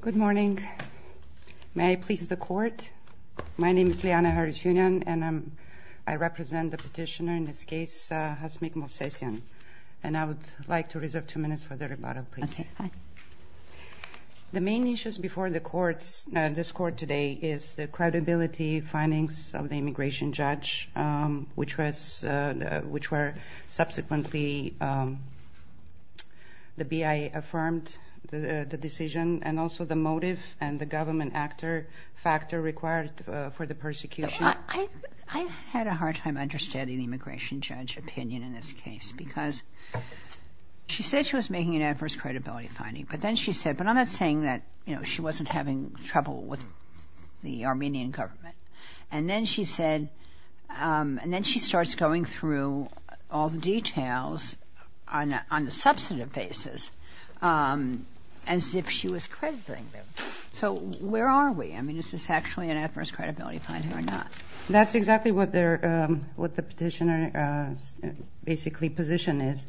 Good morning. May I please the court? My name is Liana Harutyunyan, and I represent the petitioner in this case, Hasmik Movsesyan. And I would like to reserve two minutes for the rebuttal, please. That's fine. The main issues before this court today is the credibility findings of the immigration judge, which were subsequently the BIA affirmed the decision, and also the motive and the government actor factor required for the persecution. I had a hard time understanding the immigration judge opinion in this case because she said she was making an adverse credibility finding, but then she said, but I'm not saying that she wasn't having trouble with the Armenian government. And then she said, and then she starts going through all the details on a substantive basis as if she was crediting them. So where are we? I mean, is this actually an adverse credibility finding or not? That's exactly what the petitioner's basically position is.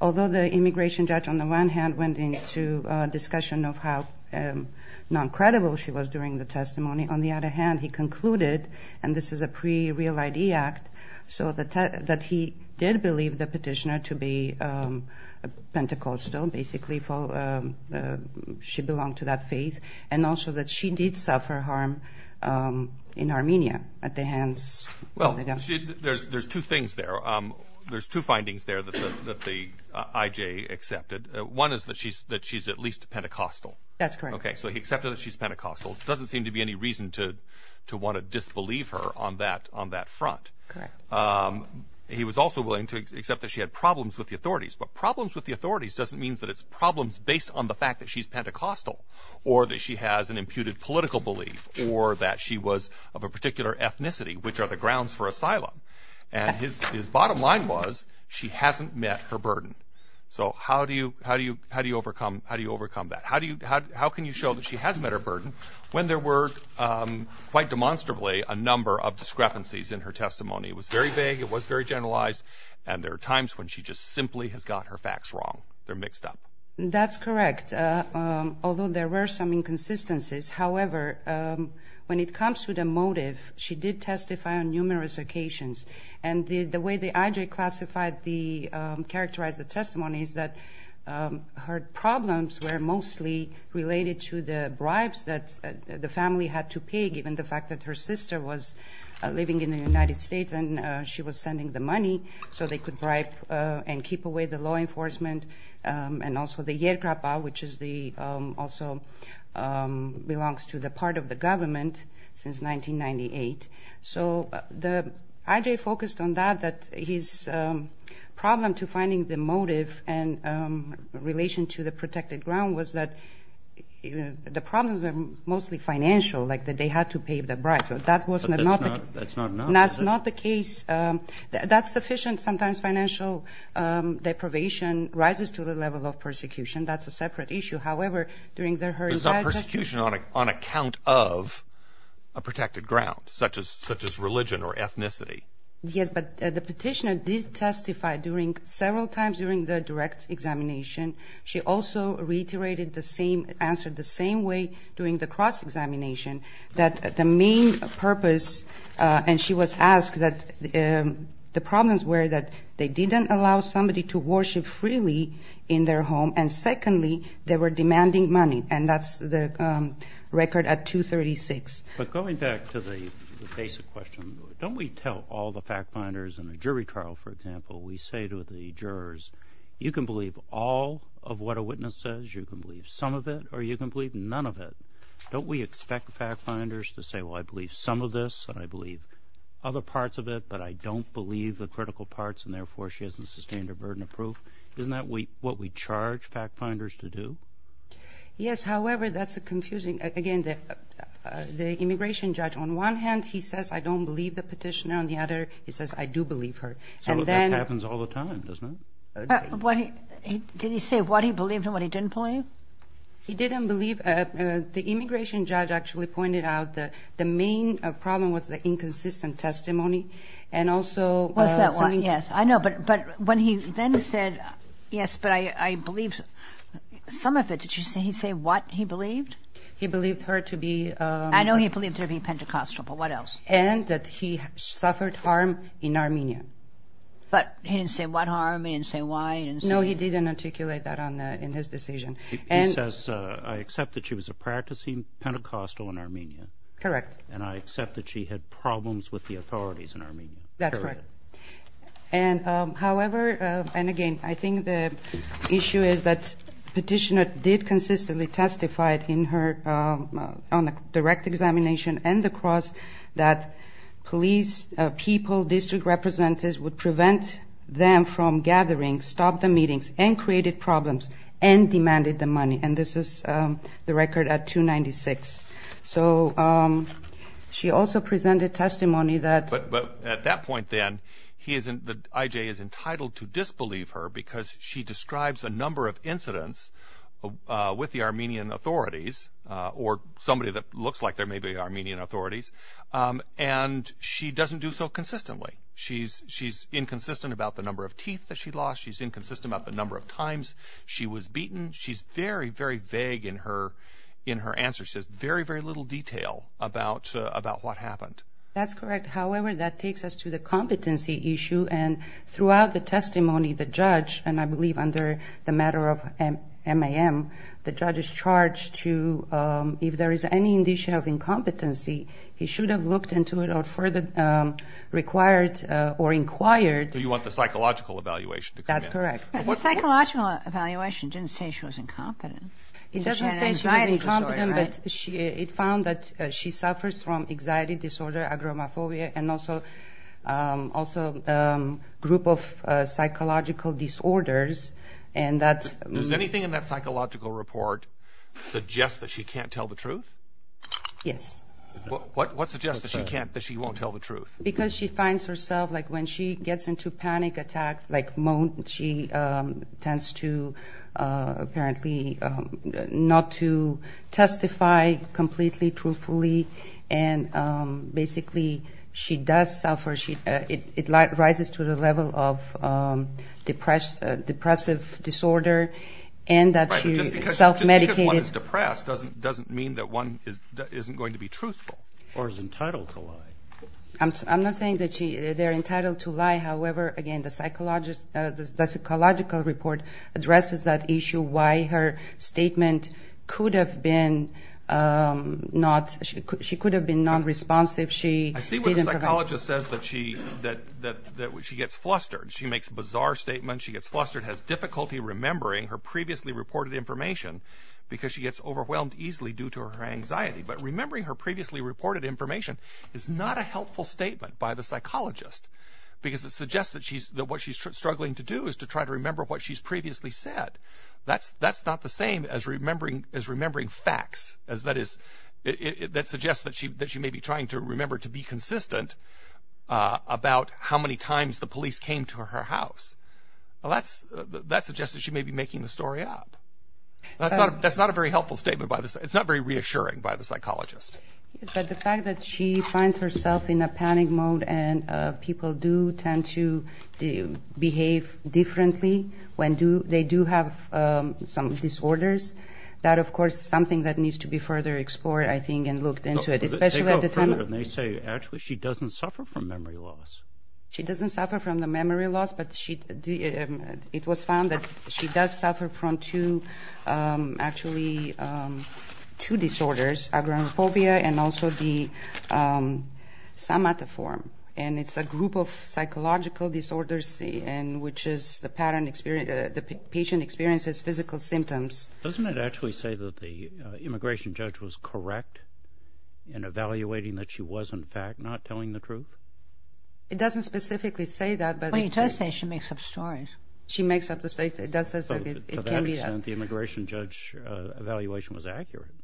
Although the immigration judge on the one hand went into discussion of how non-credible she was during the testimony, on the other hand he concluded, and this is a pre-Real ID Act, that he did believe the petitioner to be Pentecostal, basically she belonged to that faith, and also that she did suffer harm in Armenia at the hands of the government. Well, there's two things there. There's two findings there that the IJ accepted. One is that she's at least Pentecostal. That's correct. Okay, so he accepted that she's Pentecostal. There doesn't seem to be any reason to want to disbelieve her on that front. Correct. He was also willing to accept that she had problems with the authorities. But problems with the authorities doesn't mean that it's problems based on the fact that she's Pentecostal or that she has an imputed political belief or that she was of a particular ethnicity, which are the grounds for asylum. And his bottom line was she hasn't met her burden. So how do you overcome that? How can you show that she has met her burden when there were, quite demonstrably, a number of discrepancies in her testimony? It was very vague. It was very generalized. And there are times when she just simply has got her facts wrong. They're mixed up. That's correct, although there were some inconsistencies. However, when it comes to the motive, she did testify on numerous occasions. And the way the IJ characterized the testimony is that her problems were mostly related to the bribes that the family had to pay given the fact that her sister was living in the United States and she was sending the money so they could bribe and keep away the law enforcement and also the yer krapa, which also belongs to the part of the government since 1998. So the IJ focused on that, that his problem to finding the motive in relation to the protected ground was that the problems were mostly financial, like that they had to pay the bribe. But that's not enough, is it? That's not the case. That's sufficient. Sometimes financial deprivation rises to the level of persecution. That's a separate issue. But it's not persecution on account of a protected ground, such as religion or ethnicity. Yes, but the petitioner did testify several times during the direct examination. She also reiterated the same answer the same way during the cross-examination, that the main purpose, and she was asked that the problems were that they didn't allow somebody to worship freely in their home, and secondly, they were demanding money, and that's the record at 236. But going back to the basic question, don't we tell all the fact-finders in a jury trial, for example, we say to the jurors, you can believe all of what a witness says, you can believe some of it, or you can believe none of it. Don't we expect fact-finders to say, well, I believe some of this, and I believe other parts of it, but I don't believe the critical parts, and therefore she hasn't sustained her burden of proof? Isn't that what we charge fact-finders to do? Yes. However, that's confusing. Again, the immigration judge, on one hand, he says, I don't believe the petitioner, and on the other, he says, I do believe her. So that happens all the time, doesn't it? Did he say what he believed and what he didn't believe? He didn't believe the immigration judge actually pointed out the main problem was the inconsistent testimony, and also the... Yes, I know. But when he then said, yes, but I believe some of it, did he say what he believed? He believed her to be... I know he believed her to be Pentecostal, but what else? And that he suffered harm in Armenia. But he didn't say what harm, he didn't say why, he didn't say... No, he didn't articulate that in his decision. He says, I accept that she was a practicing Pentecostal in Armenia. Correct. And I accept that she had problems with the authorities in Armenia. That's right. And, however, and again, I think the issue is that petitioner did consistently testify in her, on a direct examination, and the cross that police people, district representatives, would prevent them from gathering, stop the meetings, and created problems, and demanded the money. And this is the record at 296. So she also presented testimony that... IJ is entitled to disbelieve her because she describes a number of incidents with the Armenian authorities, or somebody that looks like there may be Armenian authorities, and she doesn't do so consistently. She's inconsistent about the number of teeth that she lost. She's inconsistent about the number of times she was beaten. She's very, very vague in her answer. She has very, very little detail about what happened. That's correct. However, that takes us to the competency issue, and throughout the testimony, the judge, and I believe under the matter of MAM, the judge is charged to, if there is any indication of incompetency, he should have looked into it or further required or inquired. So you want the psychological evaluation to come in. That's correct. The psychological evaluation didn't say she was incompetent. It doesn't say she was incompetent, but it found that she suffers from anxiety disorder, agoraphobia, and also a group of psychological disorders, and that... Does anything in that psychological report suggest that she can't tell the truth? Yes. What suggests that she can't, that she won't tell the truth? Because she finds herself, like when she gets into panic attacks, like moans, she tends to apparently not to testify completely truthfully, and basically she does suffer. It rises to the level of depressive disorder, and that she's self-medicated. Right, but just because one is depressed doesn't mean that one isn't going to be truthful. Or is entitled to lie. I'm not saying that they're entitled to lie. However, again, the psychological report addresses that issue, why her statement could have been non-responsive. I see what the psychologist says, that she gets flustered. She makes bizarre statements. She gets flustered, has difficulty remembering her previously reported information because she gets overwhelmed easily due to her anxiety. But remembering her previously reported information is not a helpful statement by the psychologist. Because it suggests that what she's struggling to do is to try to remember what she's previously said. That's not the same as remembering facts. That suggests that she may be trying to remember to be consistent about how many times the police came to her house. That suggests that she may be making the story up. That's not a very helpful statement by the psychologist. It's not very reassuring by the psychologist. But the fact that she finds herself in a panic mode and people do tend to behave differently when they do have some disorders, that, of course, is something that needs to be further explored, I think, and looked into it. Especially at the time of- They go further and they say, actually, she doesn't suffer from memory loss. She doesn't suffer from the memory loss, but it was found that she does suffer from two disorders, agoraphobia and also the somatoform. And it's a group of psychological disorders in which the patient experiences physical symptoms. Doesn't it actually say that the immigration judge was correct in evaluating that she was, in fact, not telling the truth? It doesn't specifically say that, but- Well, it does say she makes up stories. She makes up the stories. It does say that it can be- To that extent, the immigration judge evaluation was accurate.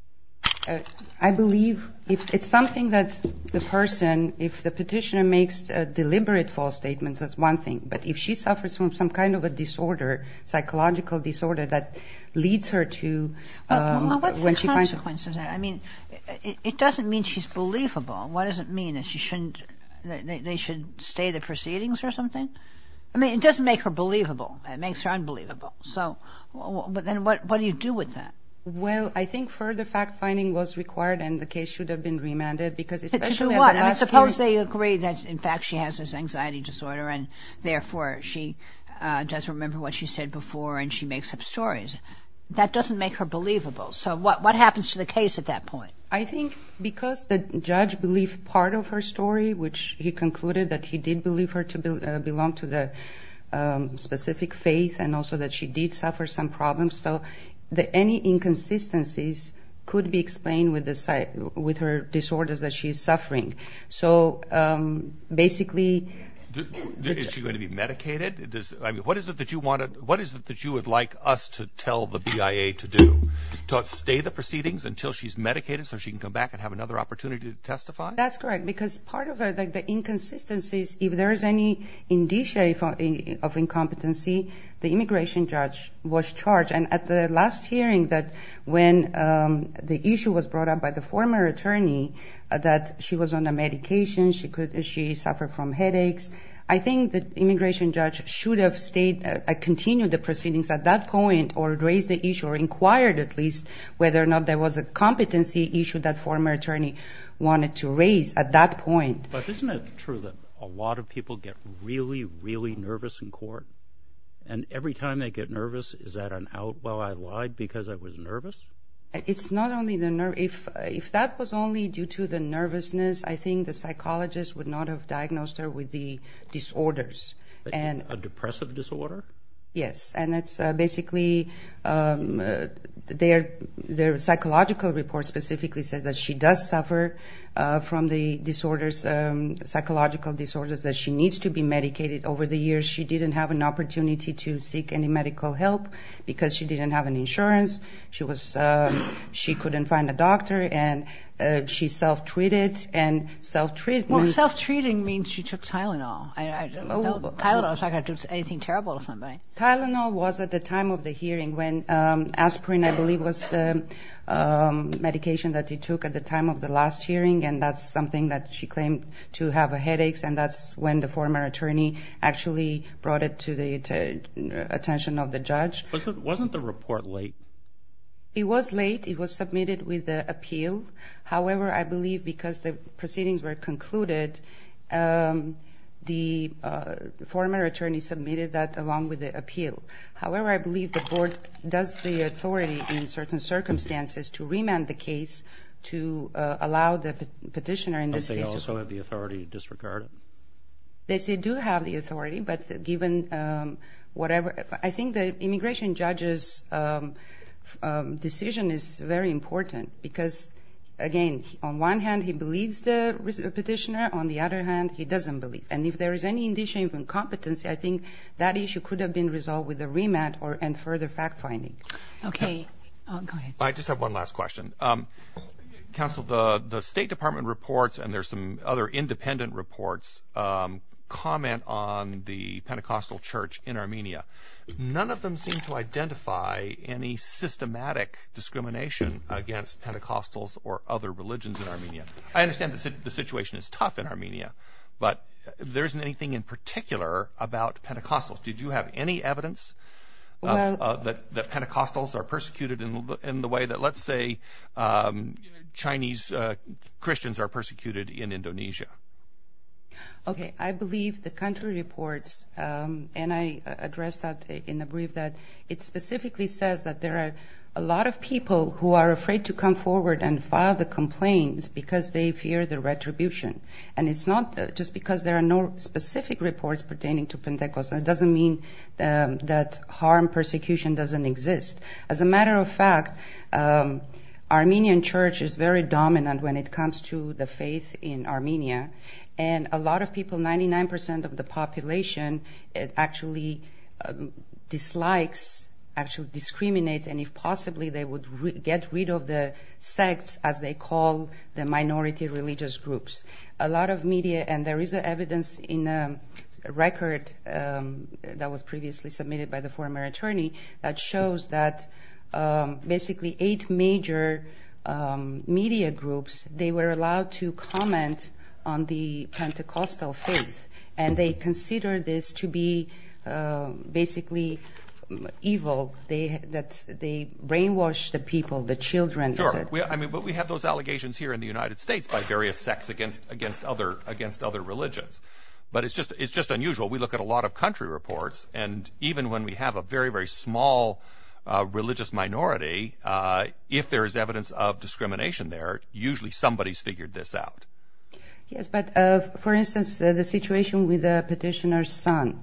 I believe it's something that the person, if the petitioner makes deliberate false statements, that's one thing. But if she suffers from some kind of a disorder, psychological disorder, that leads her to- Well, what's the consequence of that? I mean, it doesn't mean she's believable. What does it mean that they should stay the proceedings or something? I mean, it doesn't make her believable. It makes her unbelievable. But then what do you do with that? Well, I think further fact-finding was required and the case should have been remanded because- To do what? I mean, suppose they agree that, in fact, she has this anxiety disorder and, therefore, she doesn't remember what she said before and she makes up stories. That doesn't make her believable. So what happens to the case at that point? I think because the judge believed part of her story, which he concluded that he did believe her to belong to the specific faith and also that she did suffer some problems, so any inconsistencies could be explained with her disorders that she is suffering. So, basically- Is she going to be medicated? I mean, what is it that you would like us to tell the BIA to do? To stay the proceedings until she's medicated so she can come back and have another opportunity to testify? That's correct because part of the inconsistencies, if there is any indicia of incompetency, the immigration judge was charged. And at the last hearing, when the issue was brought up by the former attorney that she was on a medication, she suffered from headaches, I think the immigration judge should have continued the proceedings at that point or raised the issue or inquired, at least, whether or not there was a competency issue that the former attorney wanted to raise at that point. But isn't it true that a lot of people get really, really nervous in court? And every time they get nervous, is that an out, well, I lied because I was nervous? It's not only the nerve. If that was only due to the nervousness, I think the psychologist would not have diagnosed her with the disorders. A depressive disorder? Yes. And it's basically their psychological report specifically says that she does suffer from the disorders, psychological disorders, that she needs to be medicated over the years. She didn't have an opportunity to seek any medical help because she didn't have an insurance. She couldn't find a doctor. And she self-treated and self-treatment. Well, self-treating means she took Tylenol. Tylenol is not going to do anything terrible to somebody. Tylenol was at the time of the hearing when aspirin, I believe, was the medication that she took at the time of the last hearing. And that's something that she claimed to have headaches. And that's when the former attorney actually brought it to the attention of the judge. Wasn't the report late? It was late. It was submitted with the appeal. However, I believe because the proceedings were concluded, the former attorney submitted that along with the appeal. However, I believe the board does the authority in certain circumstances to remand the case to allow the petitioner in this case. Don't they also have the authority to disregard it? Yes, they do have the authority. But given whatever ‑‑ I think the immigration judge's decision is very important because, again, on one hand he believes the petitioner, on the other hand he doesn't believe. And if there is any indication of incompetence, I think that issue could have been resolved with a remand and further fact-finding. Okay. Go ahead. I just have one last question. Counsel, the State Department reports and there's some other independent reports comment on the Pentecostal church in Armenia. None of them seem to identify any systematic discrimination against Pentecostals or other religions in Armenia. I understand the situation is tough in Armenia, but there isn't anything in particular about Pentecostals. Did you have any evidence that Pentecostals are persecuted in the way that, let's say, Chinese Christians are persecuted in Indonesia? Okay. I believe the country reports, and I addressed that in the brief, that it specifically says that there are a lot of people who are afraid to come forward and file the complaints because they fear the retribution. And it's not just because there are no specific reports pertaining to Pentecostals. It doesn't mean that harm persecution doesn't exist. As a matter of fact, Armenian church is very dominant when it comes to the faith in Armenia. And a lot of people, 99 percent of the population, actually dislikes, actually discriminates, and if possibly they would get rid of the sects as they call the minority religious groups. A lot of media, and there is evidence in a record that was previously submitted by the former attorney, that shows that basically eight major media groups, they were allowed to comment on the Pentecostal faith, and they considered this to be basically evil, that they brainwashed the people, the children. But we have those allegations here in the United States by various sects against other religions. But it's just unusual. We look at a lot of country reports, and even when we have a very, very small religious minority, if there is evidence of discrimination there, usually somebody's figured this out. Yes, but for instance, the situation with the petitioner's son.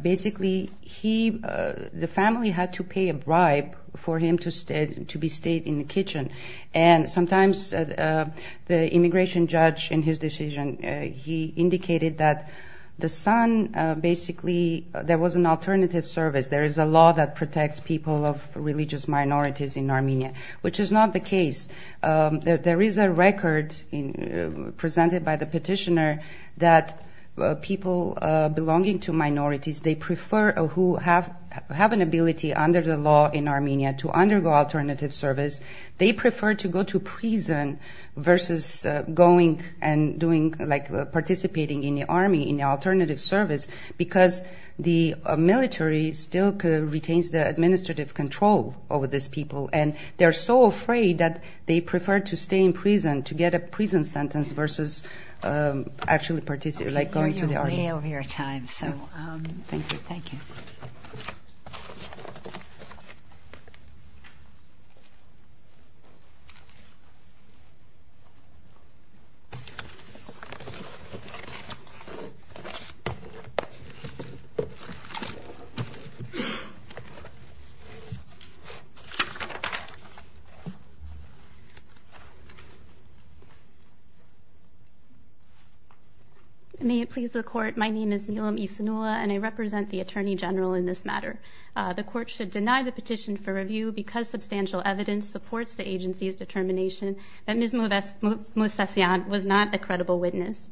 Basically, the family had to pay a bribe for him to be stayed in the kitchen, and sometimes the immigration judge in his decision, he indicated that the son basically, there was an alternative service. There is a law that protects people of religious minorities in Armenia, which is not the case. There is a record presented by the petitioner that people belonging to minorities, they prefer who have an ability under the law in Armenia to undergo alternative service, they prefer to go to prison versus going and participating in the army, in the alternative service, because the military still retains the administrative control over these people, and they're so afraid that they prefer to stay in prison to get a prison sentence versus actually participate, like going to the army. Okay, you're way over your time, so thank you. Thank you. Thank you. May it please the Court, my name is Nilam Isinula, and I represent the Attorney General in this matter. The Court should deny the petition for review because substantial evidence supports the agency's determination that Ms. Moussassian was not a credible witness.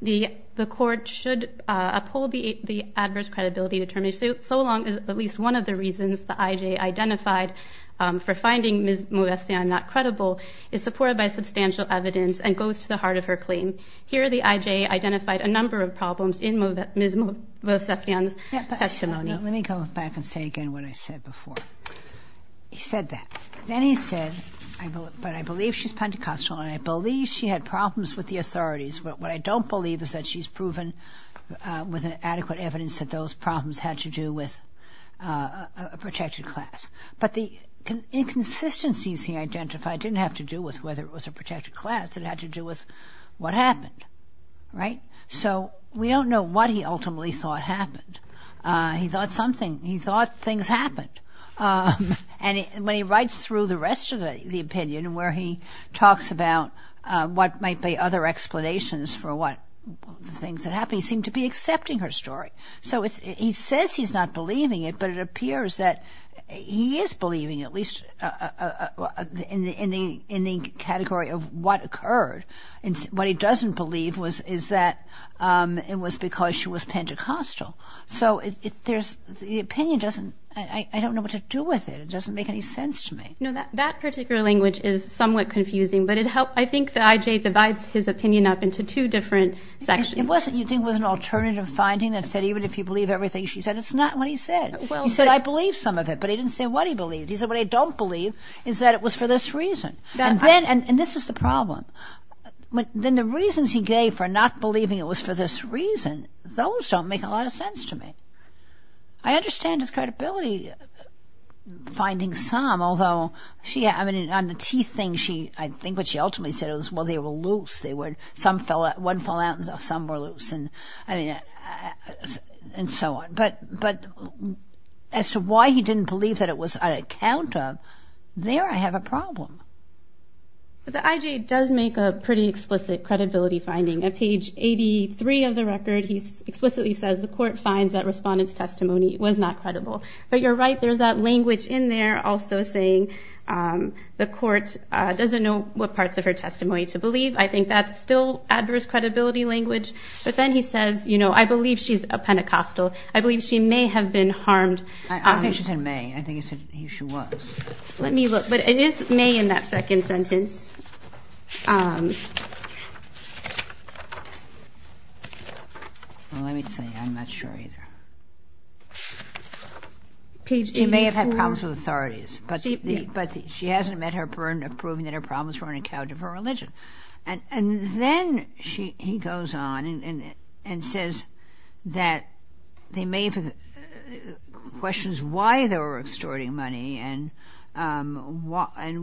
The Court should uphold the adverse credibility determination, so long as at least one of the reasons the I.J. identified for finding Ms. Moussassian not credible is supported by substantial evidence and goes to the heart of her claim. Here the I.J. identified a number of problems in Ms. Moussassian's testimony. Let me go back and say again what I said before. He said that. Then he said, but I believe she's Pentecostal, and I believe she had problems with the authorities. What I don't believe is that she's proven with adequate evidence that those problems had to do with a protected class. But the inconsistencies he identified didn't have to do with whether it was a protected class. It had to do with what happened, right? So we don't know what he ultimately thought happened. He thought something. He thought things happened. And when he writes through the rest of the opinion where he talks about what might be other explanations for the things that happened, he seemed to be accepting her story. So he says he's not believing it, but it appears that he is believing it, at least in the category of what occurred. What he doesn't believe is that it was because she was Pentecostal. So the opinion doesn't, I don't know what to do with it. It doesn't make any sense to me. No, that particular language is somewhat confusing, but I think the IJ divides his opinion up into two different sections. You think it was an alternative finding that said even if you believe everything she said, it's not what he said. He said, I believe some of it, but he didn't say what he believed. He said, what I don't believe is that it was for this reason. And this is the problem. Then the reasons he gave for not believing it was for this reason, those don't make a lot of sense to me. I understand his credibility finding some, although on the teeth thing, I think what she ultimately said was, well, they were loose. Some wouldn't fall out and some were loose and so on. But as to why he didn't believe that it was on account of, there I have a problem. The IJ does make a pretty explicit credibility finding. At page 83 of the record, he explicitly says, the court finds that respondent's testimony was not credible. But you're right. There's that language in there also saying the court doesn't know what parts of her testimony to believe. I think that's still adverse credibility language. But then he says, you know, I believe she's a Pentecostal. I believe she may have been harmed. I don't think she said may. I think she said she was. Let me look. But it is may in that second sentence. Let me see. I'm not sure either. Page 84. She may have had problems with authorities, but she hasn't met her burden of proving that her problems were on account of her religion. And then he goes on and says that they may have questions why they were extorting money and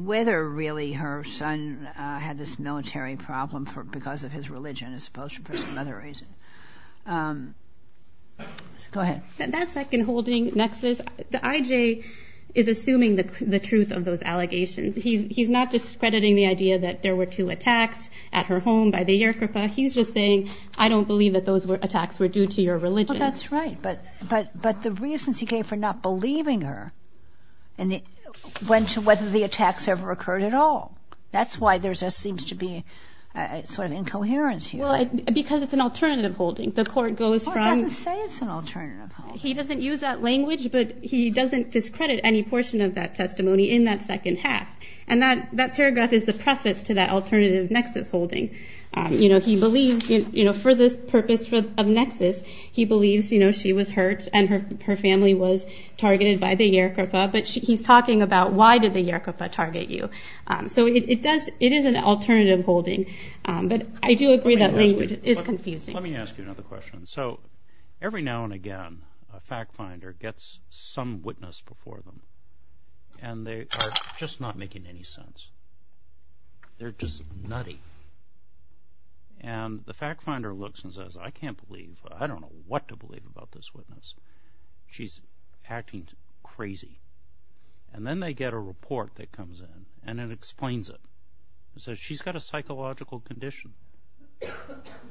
whether really her son had this military problem because of his religion, as opposed to for some other reason. Go ahead. That second holding nexus, the IJ is assuming the truth of those allegations. He's not discrediting the idea that there were two attacks at her home by the Yerkepah. He's just saying, I don't believe that those attacks were due to your religion. Well, that's right. But the reasons he gave for not believing her went to whether the attacks ever occurred at all. That's why there just seems to be sort of incoherence here. Well, because it's an alternative holding. The Court goes from he doesn't use that language, but he doesn't discredit any portion of that testimony in that second half. And that paragraph is the preface to that alternative nexus holding. He believes for this purpose of nexus, he believes she was hurt and her family was targeted by the Yerkepah. But he's talking about why did the Yerkepah target you. So it is an alternative holding. But I do agree that language is confusing. Let me ask you another question. So every now and again, a fact finder gets some witness before them, and they are just not making any sense. They're just nutty. And the fact finder looks and says, I can't believe, I don't know what to believe about this witness. She's acting crazy. And then they get a report that comes in, and it explains it. It says she's got a psychological condition.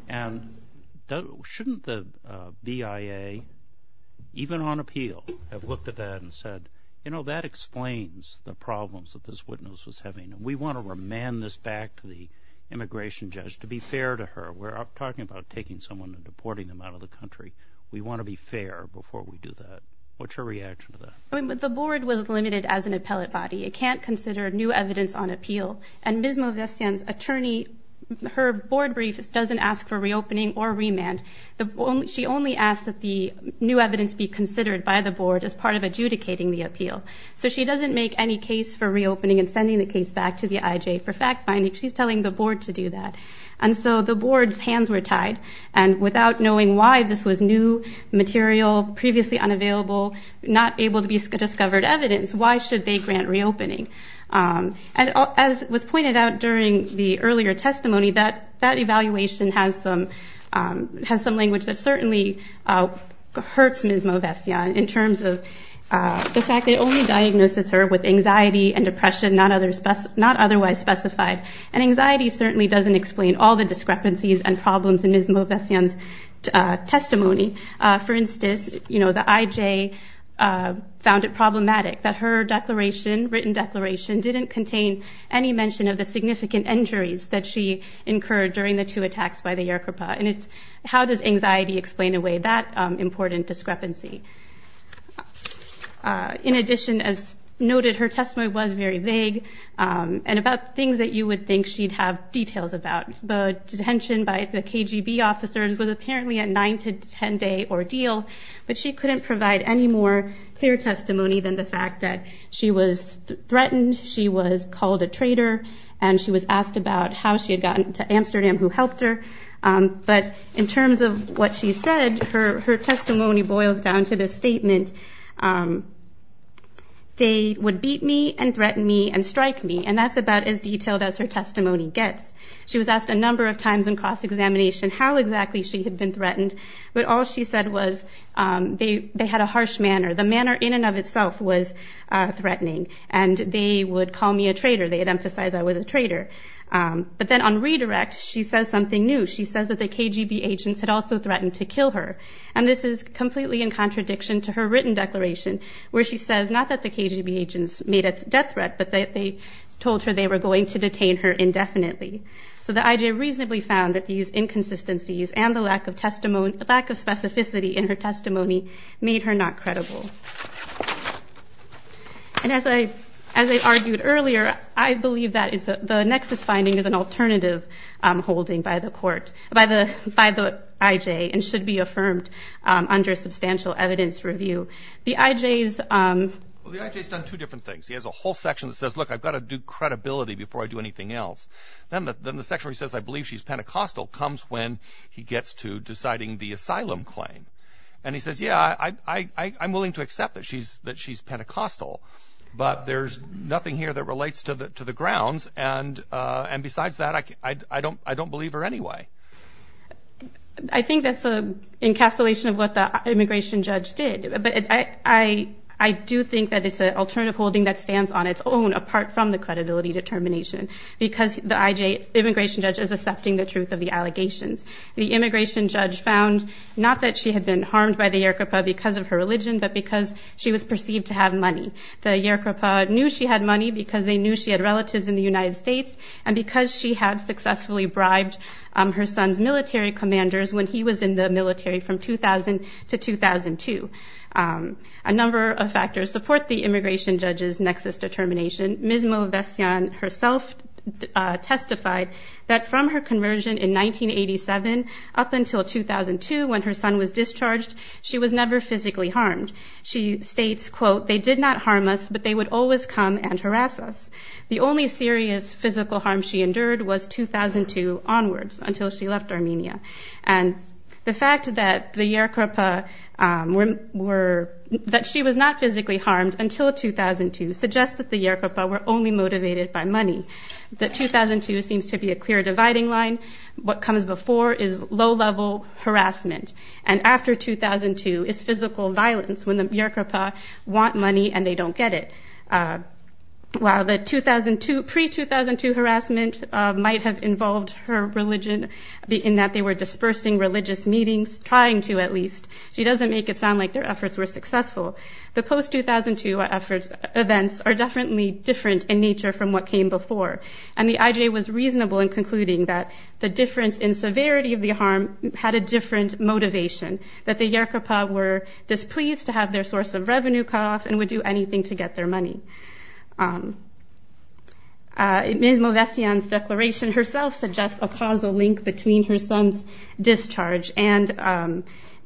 And shouldn't the BIA, even on appeal, have looked at that and said, you know, that explains the problems that this witness was having. And we want to remand this back to the immigration judge to be fair to her. We're talking about taking someone and deporting them out of the country. We want to be fair before we do that. What's your reaction to that? The board was limited as an appellate body. It can't consider new evidence on appeal. And Ms. Movesian's attorney, her board brief doesn't ask for reopening or remand. She only asks that the new evidence be considered by the board as part of adjudicating the appeal. So she doesn't make any case for reopening and sending the case back to the IJ for fact finding. She's telling the board to do that. And so the board's hands were tied. And without knowing why this was new material, previously unavailable, not able to be discovered evidence, why should they grant reopening? And as was pointed out during the earlier testimony, that evaluation has some language that certainly hurts Ms. Movesian in terms of the fact that it only diagnoses her with anxiety and depression, not otherwise specified. And anxiety certainly doesn't explain all the discrepancies and problems in Ms. Movesian's testimony. For instance, you know, the IJ found it problematic that her declaration, written declaration, didn't contain any mention of the significant injuries that she incurred during the two attacks by the Yoruba. And how does anxiety explain away that important discrepancy? In addition, as noted, her testimony was very vague and about things that you would think she'd have details about. The detention by the KGB officers was apparently a nine- to ten-day ordeal, but she couldn't provide any more clear testimony than the fact that she was threatened, she was called a traitor, and she was asked about how she had gotten to Amsterdam, who helped her. But in terms of what she said, her testimony boils down to this statement, they would beat me and threaten me and strike me, and that's about as detailed as her testimony gets. She was asked a number of times in cross-examination how exactly she had been threatened, but all she said was they had a harsh manner. The manner in and of itself was threatening, and they would call me a traitor. They would emphasize I was a traitor. But then on redirect, she says something new. She says that the KGB agents had also threatened to kill her, and this is completely in contradiction to her written declaration, where she says not that the KGB agents made a death threat, but they told her they were going to detain her indefinitely. So the I.J. reasonably found that these inconsistencies and the lack of specificity in her testimony made her not credible. And as I argued earlier, I believe that the Nexus finding is an alternative holding by the court, by the I.J., and should be affirmed under substantial evidence review. The I.J.'s... Well, the I.J.'s done two different things. He has a whole section that says, look, I've got to do credibility before I do anything else. Then the section where he says, I believe she's Pentecostal comes when he gets to deciding the asylum claim. And he says, yeah, I'm willing to accept that she's Pentecostal, but there's nothing here that relates to the grounds, and besides that, I don't believe her anyway. I think that's an encapsulation of what the immigration judge did. But I do think that it's an alternative holding that stands on its own, apart from the credibility determination, because the I.J. immigration judge is accepting the truth of the allegations. The immigration judge found not that she had been harmed by the Yercapa because of her religion, but because she was perceived to have money. The Yercapa knew she had money because they knew she had relatives in the United States, and because she had successfully bribed her son's military commanders when he was in the military from 2000 to 2002. A number of factors support the immigration judge's nexus determination. Ms. Movesian herself testified that from her conversion in 1987 up until 2002 when her son was discharged, she was never physically harmed. She states, quote, they did not harm us, but they would always come and harass us. The only serious physical harm she endured was 2002 onwards, until she left Armenia. And the fact that the Yercapa were, that she was not physically harmed until 2002 suggests that the Yercapa were only motivated by money. The 2002 seems to be a clear dividing line. What comes before is low-level harassment, and after 2002 is physical violence when the Yercapa want money and they don't get it. While the 2002, pre-2002 harassment might have involved her religion in that they were dispersing religious meetings, trying to at least, she doesn't make it sound like their efforts were successful. The post-2002 events are definitely different in nature from what came before, and the IJ was reasonable in concluding that the difference in severity of the harm had a different motivation, that the Yercapa were displeased to have their source of revenue cut off and would do anything to get their money. Ms. Movesian's declaration herself suggests a causal link between her son's discharge and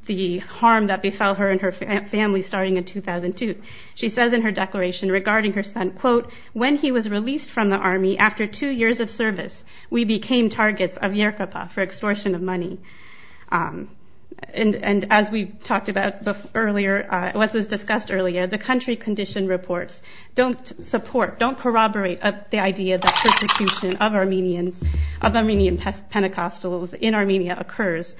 the harm that befell her and her family starting in 2002. She says in her declaration regarding her son, quote, when he was released from the army after two years of service, we became targets of Yercapa for extortion of money. And as we talked about earlier, what was discussed earlier, the country condition reports don't support, don't corroborate the idea that persecution of Armenians, of Armenian Pentecostals in Armenia occurs.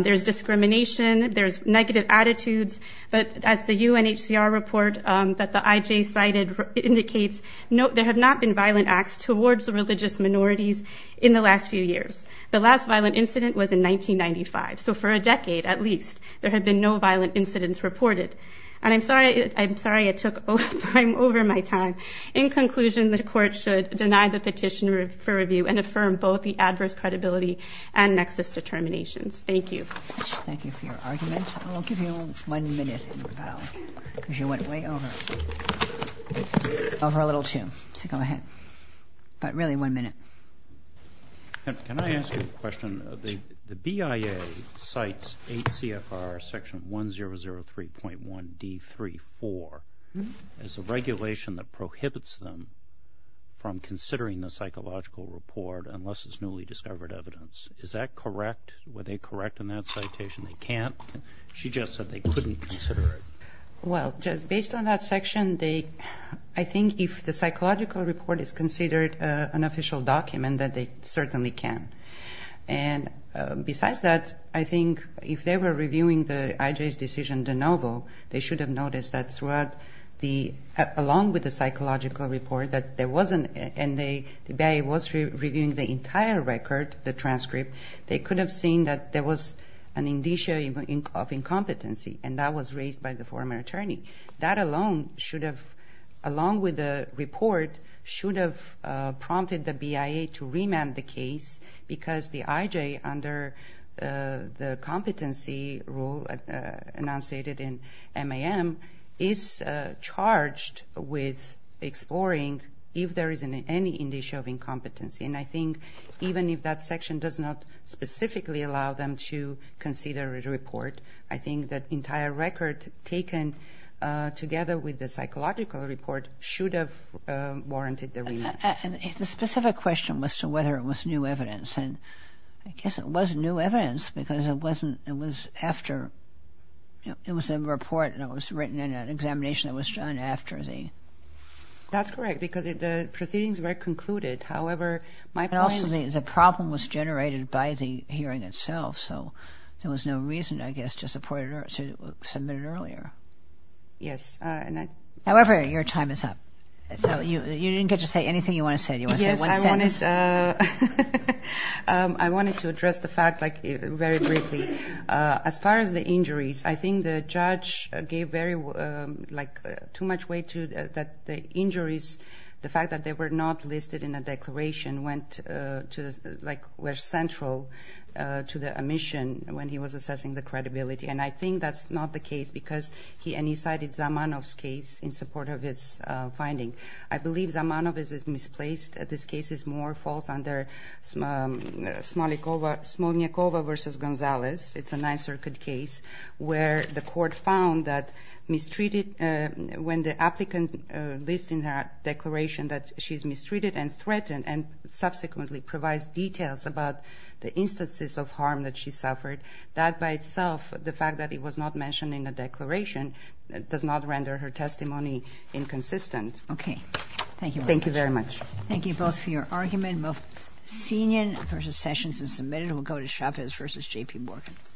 There's discrimination, there's negative attitudes, but as the UNHCR report that the IJ cited indicates, there have not been violent acts towards religious minorities in the last few years. The last violent incident was in 1995, so for a decade at least, there have been no violent incidents reported. And I'm sorry, I'm sorry I took, I'm over my time. In conclusion, the court should deny the petition for review and affirm both the adverse credibility and nexus determinations. Thank you. Thank you for your argument. I'll give you one minute, because you went way over, over a little too. So go ahead. But really, one minute. Can I ask you a question? The BIA cites 8 CFR section 1003.1 D34 as a regulation that prohibits them from considering the psychological report unless it's newly discovered evidence. Is that correct? Were they correct in that citation? They can't? She just said they couldn't consider it. Well, based on that section, they, I think if the psychological report is considered an official document, then they certainly can. And besides that, I think if they were reviewing the IJ's decision de novo, they should have noticed that throughout the, along with the psychological report, that there wasn't, and the BIA was reviewing the entire record, the transcript, they could have seen that there was an indicia of incompetency, and that was raised by the former attorney. That alone should have, along with the report, should have prompted the BIA to remand the case, because the IJ, under the competency rule enunciated in MAM, is charged with exploring if there is any indicia of incompetency. And I think even if that section does not specifically allow them to consider a report, I think that entire record taken together with the psychological report should have warranted the remand. And the specific question was to whether it was new evidence, and I guess it was new evidence because it wasn't, it was after, you know, it was a report and it was written in an examination that was done after the. That's correct, because the proceedings were concluded. However, my point. But also the problem was generated by the hearing itself, so there was no reason, I guess, to support it or to submit it earlier. Yes. However, your time is up. You didn't get to say anything you want to say. Do you want to say one sentence? Yes, I wanted to address the fact, like, very briefly. As far as the injuries, I think the judge gave very, like, too much weight to the injuries, the fact that they were not listed in a declaration went to, like, were central to the omission when he was assessing the credibility. And I think that's not the case because he cited Zamanov's case in support of his finding. I believe Zamanov is misplaced. This case is more false under Smolniakova v. Gonzalez. It's a Ninth Circuit case where the court found that mistreated, when the applicant lists in her declaration that she's mistreated and threatened and subsequently provides details about the instances of harm that she suffered, that by itself, the fact that it was not mentioned in the declaration, does not render her testimony inconsistent. Okay. Thank you very much. Thank you very much. Thank you both for your argument. Mostenian v. Sessions is submitted. We'll go to Chavez v. J.P. Morgan.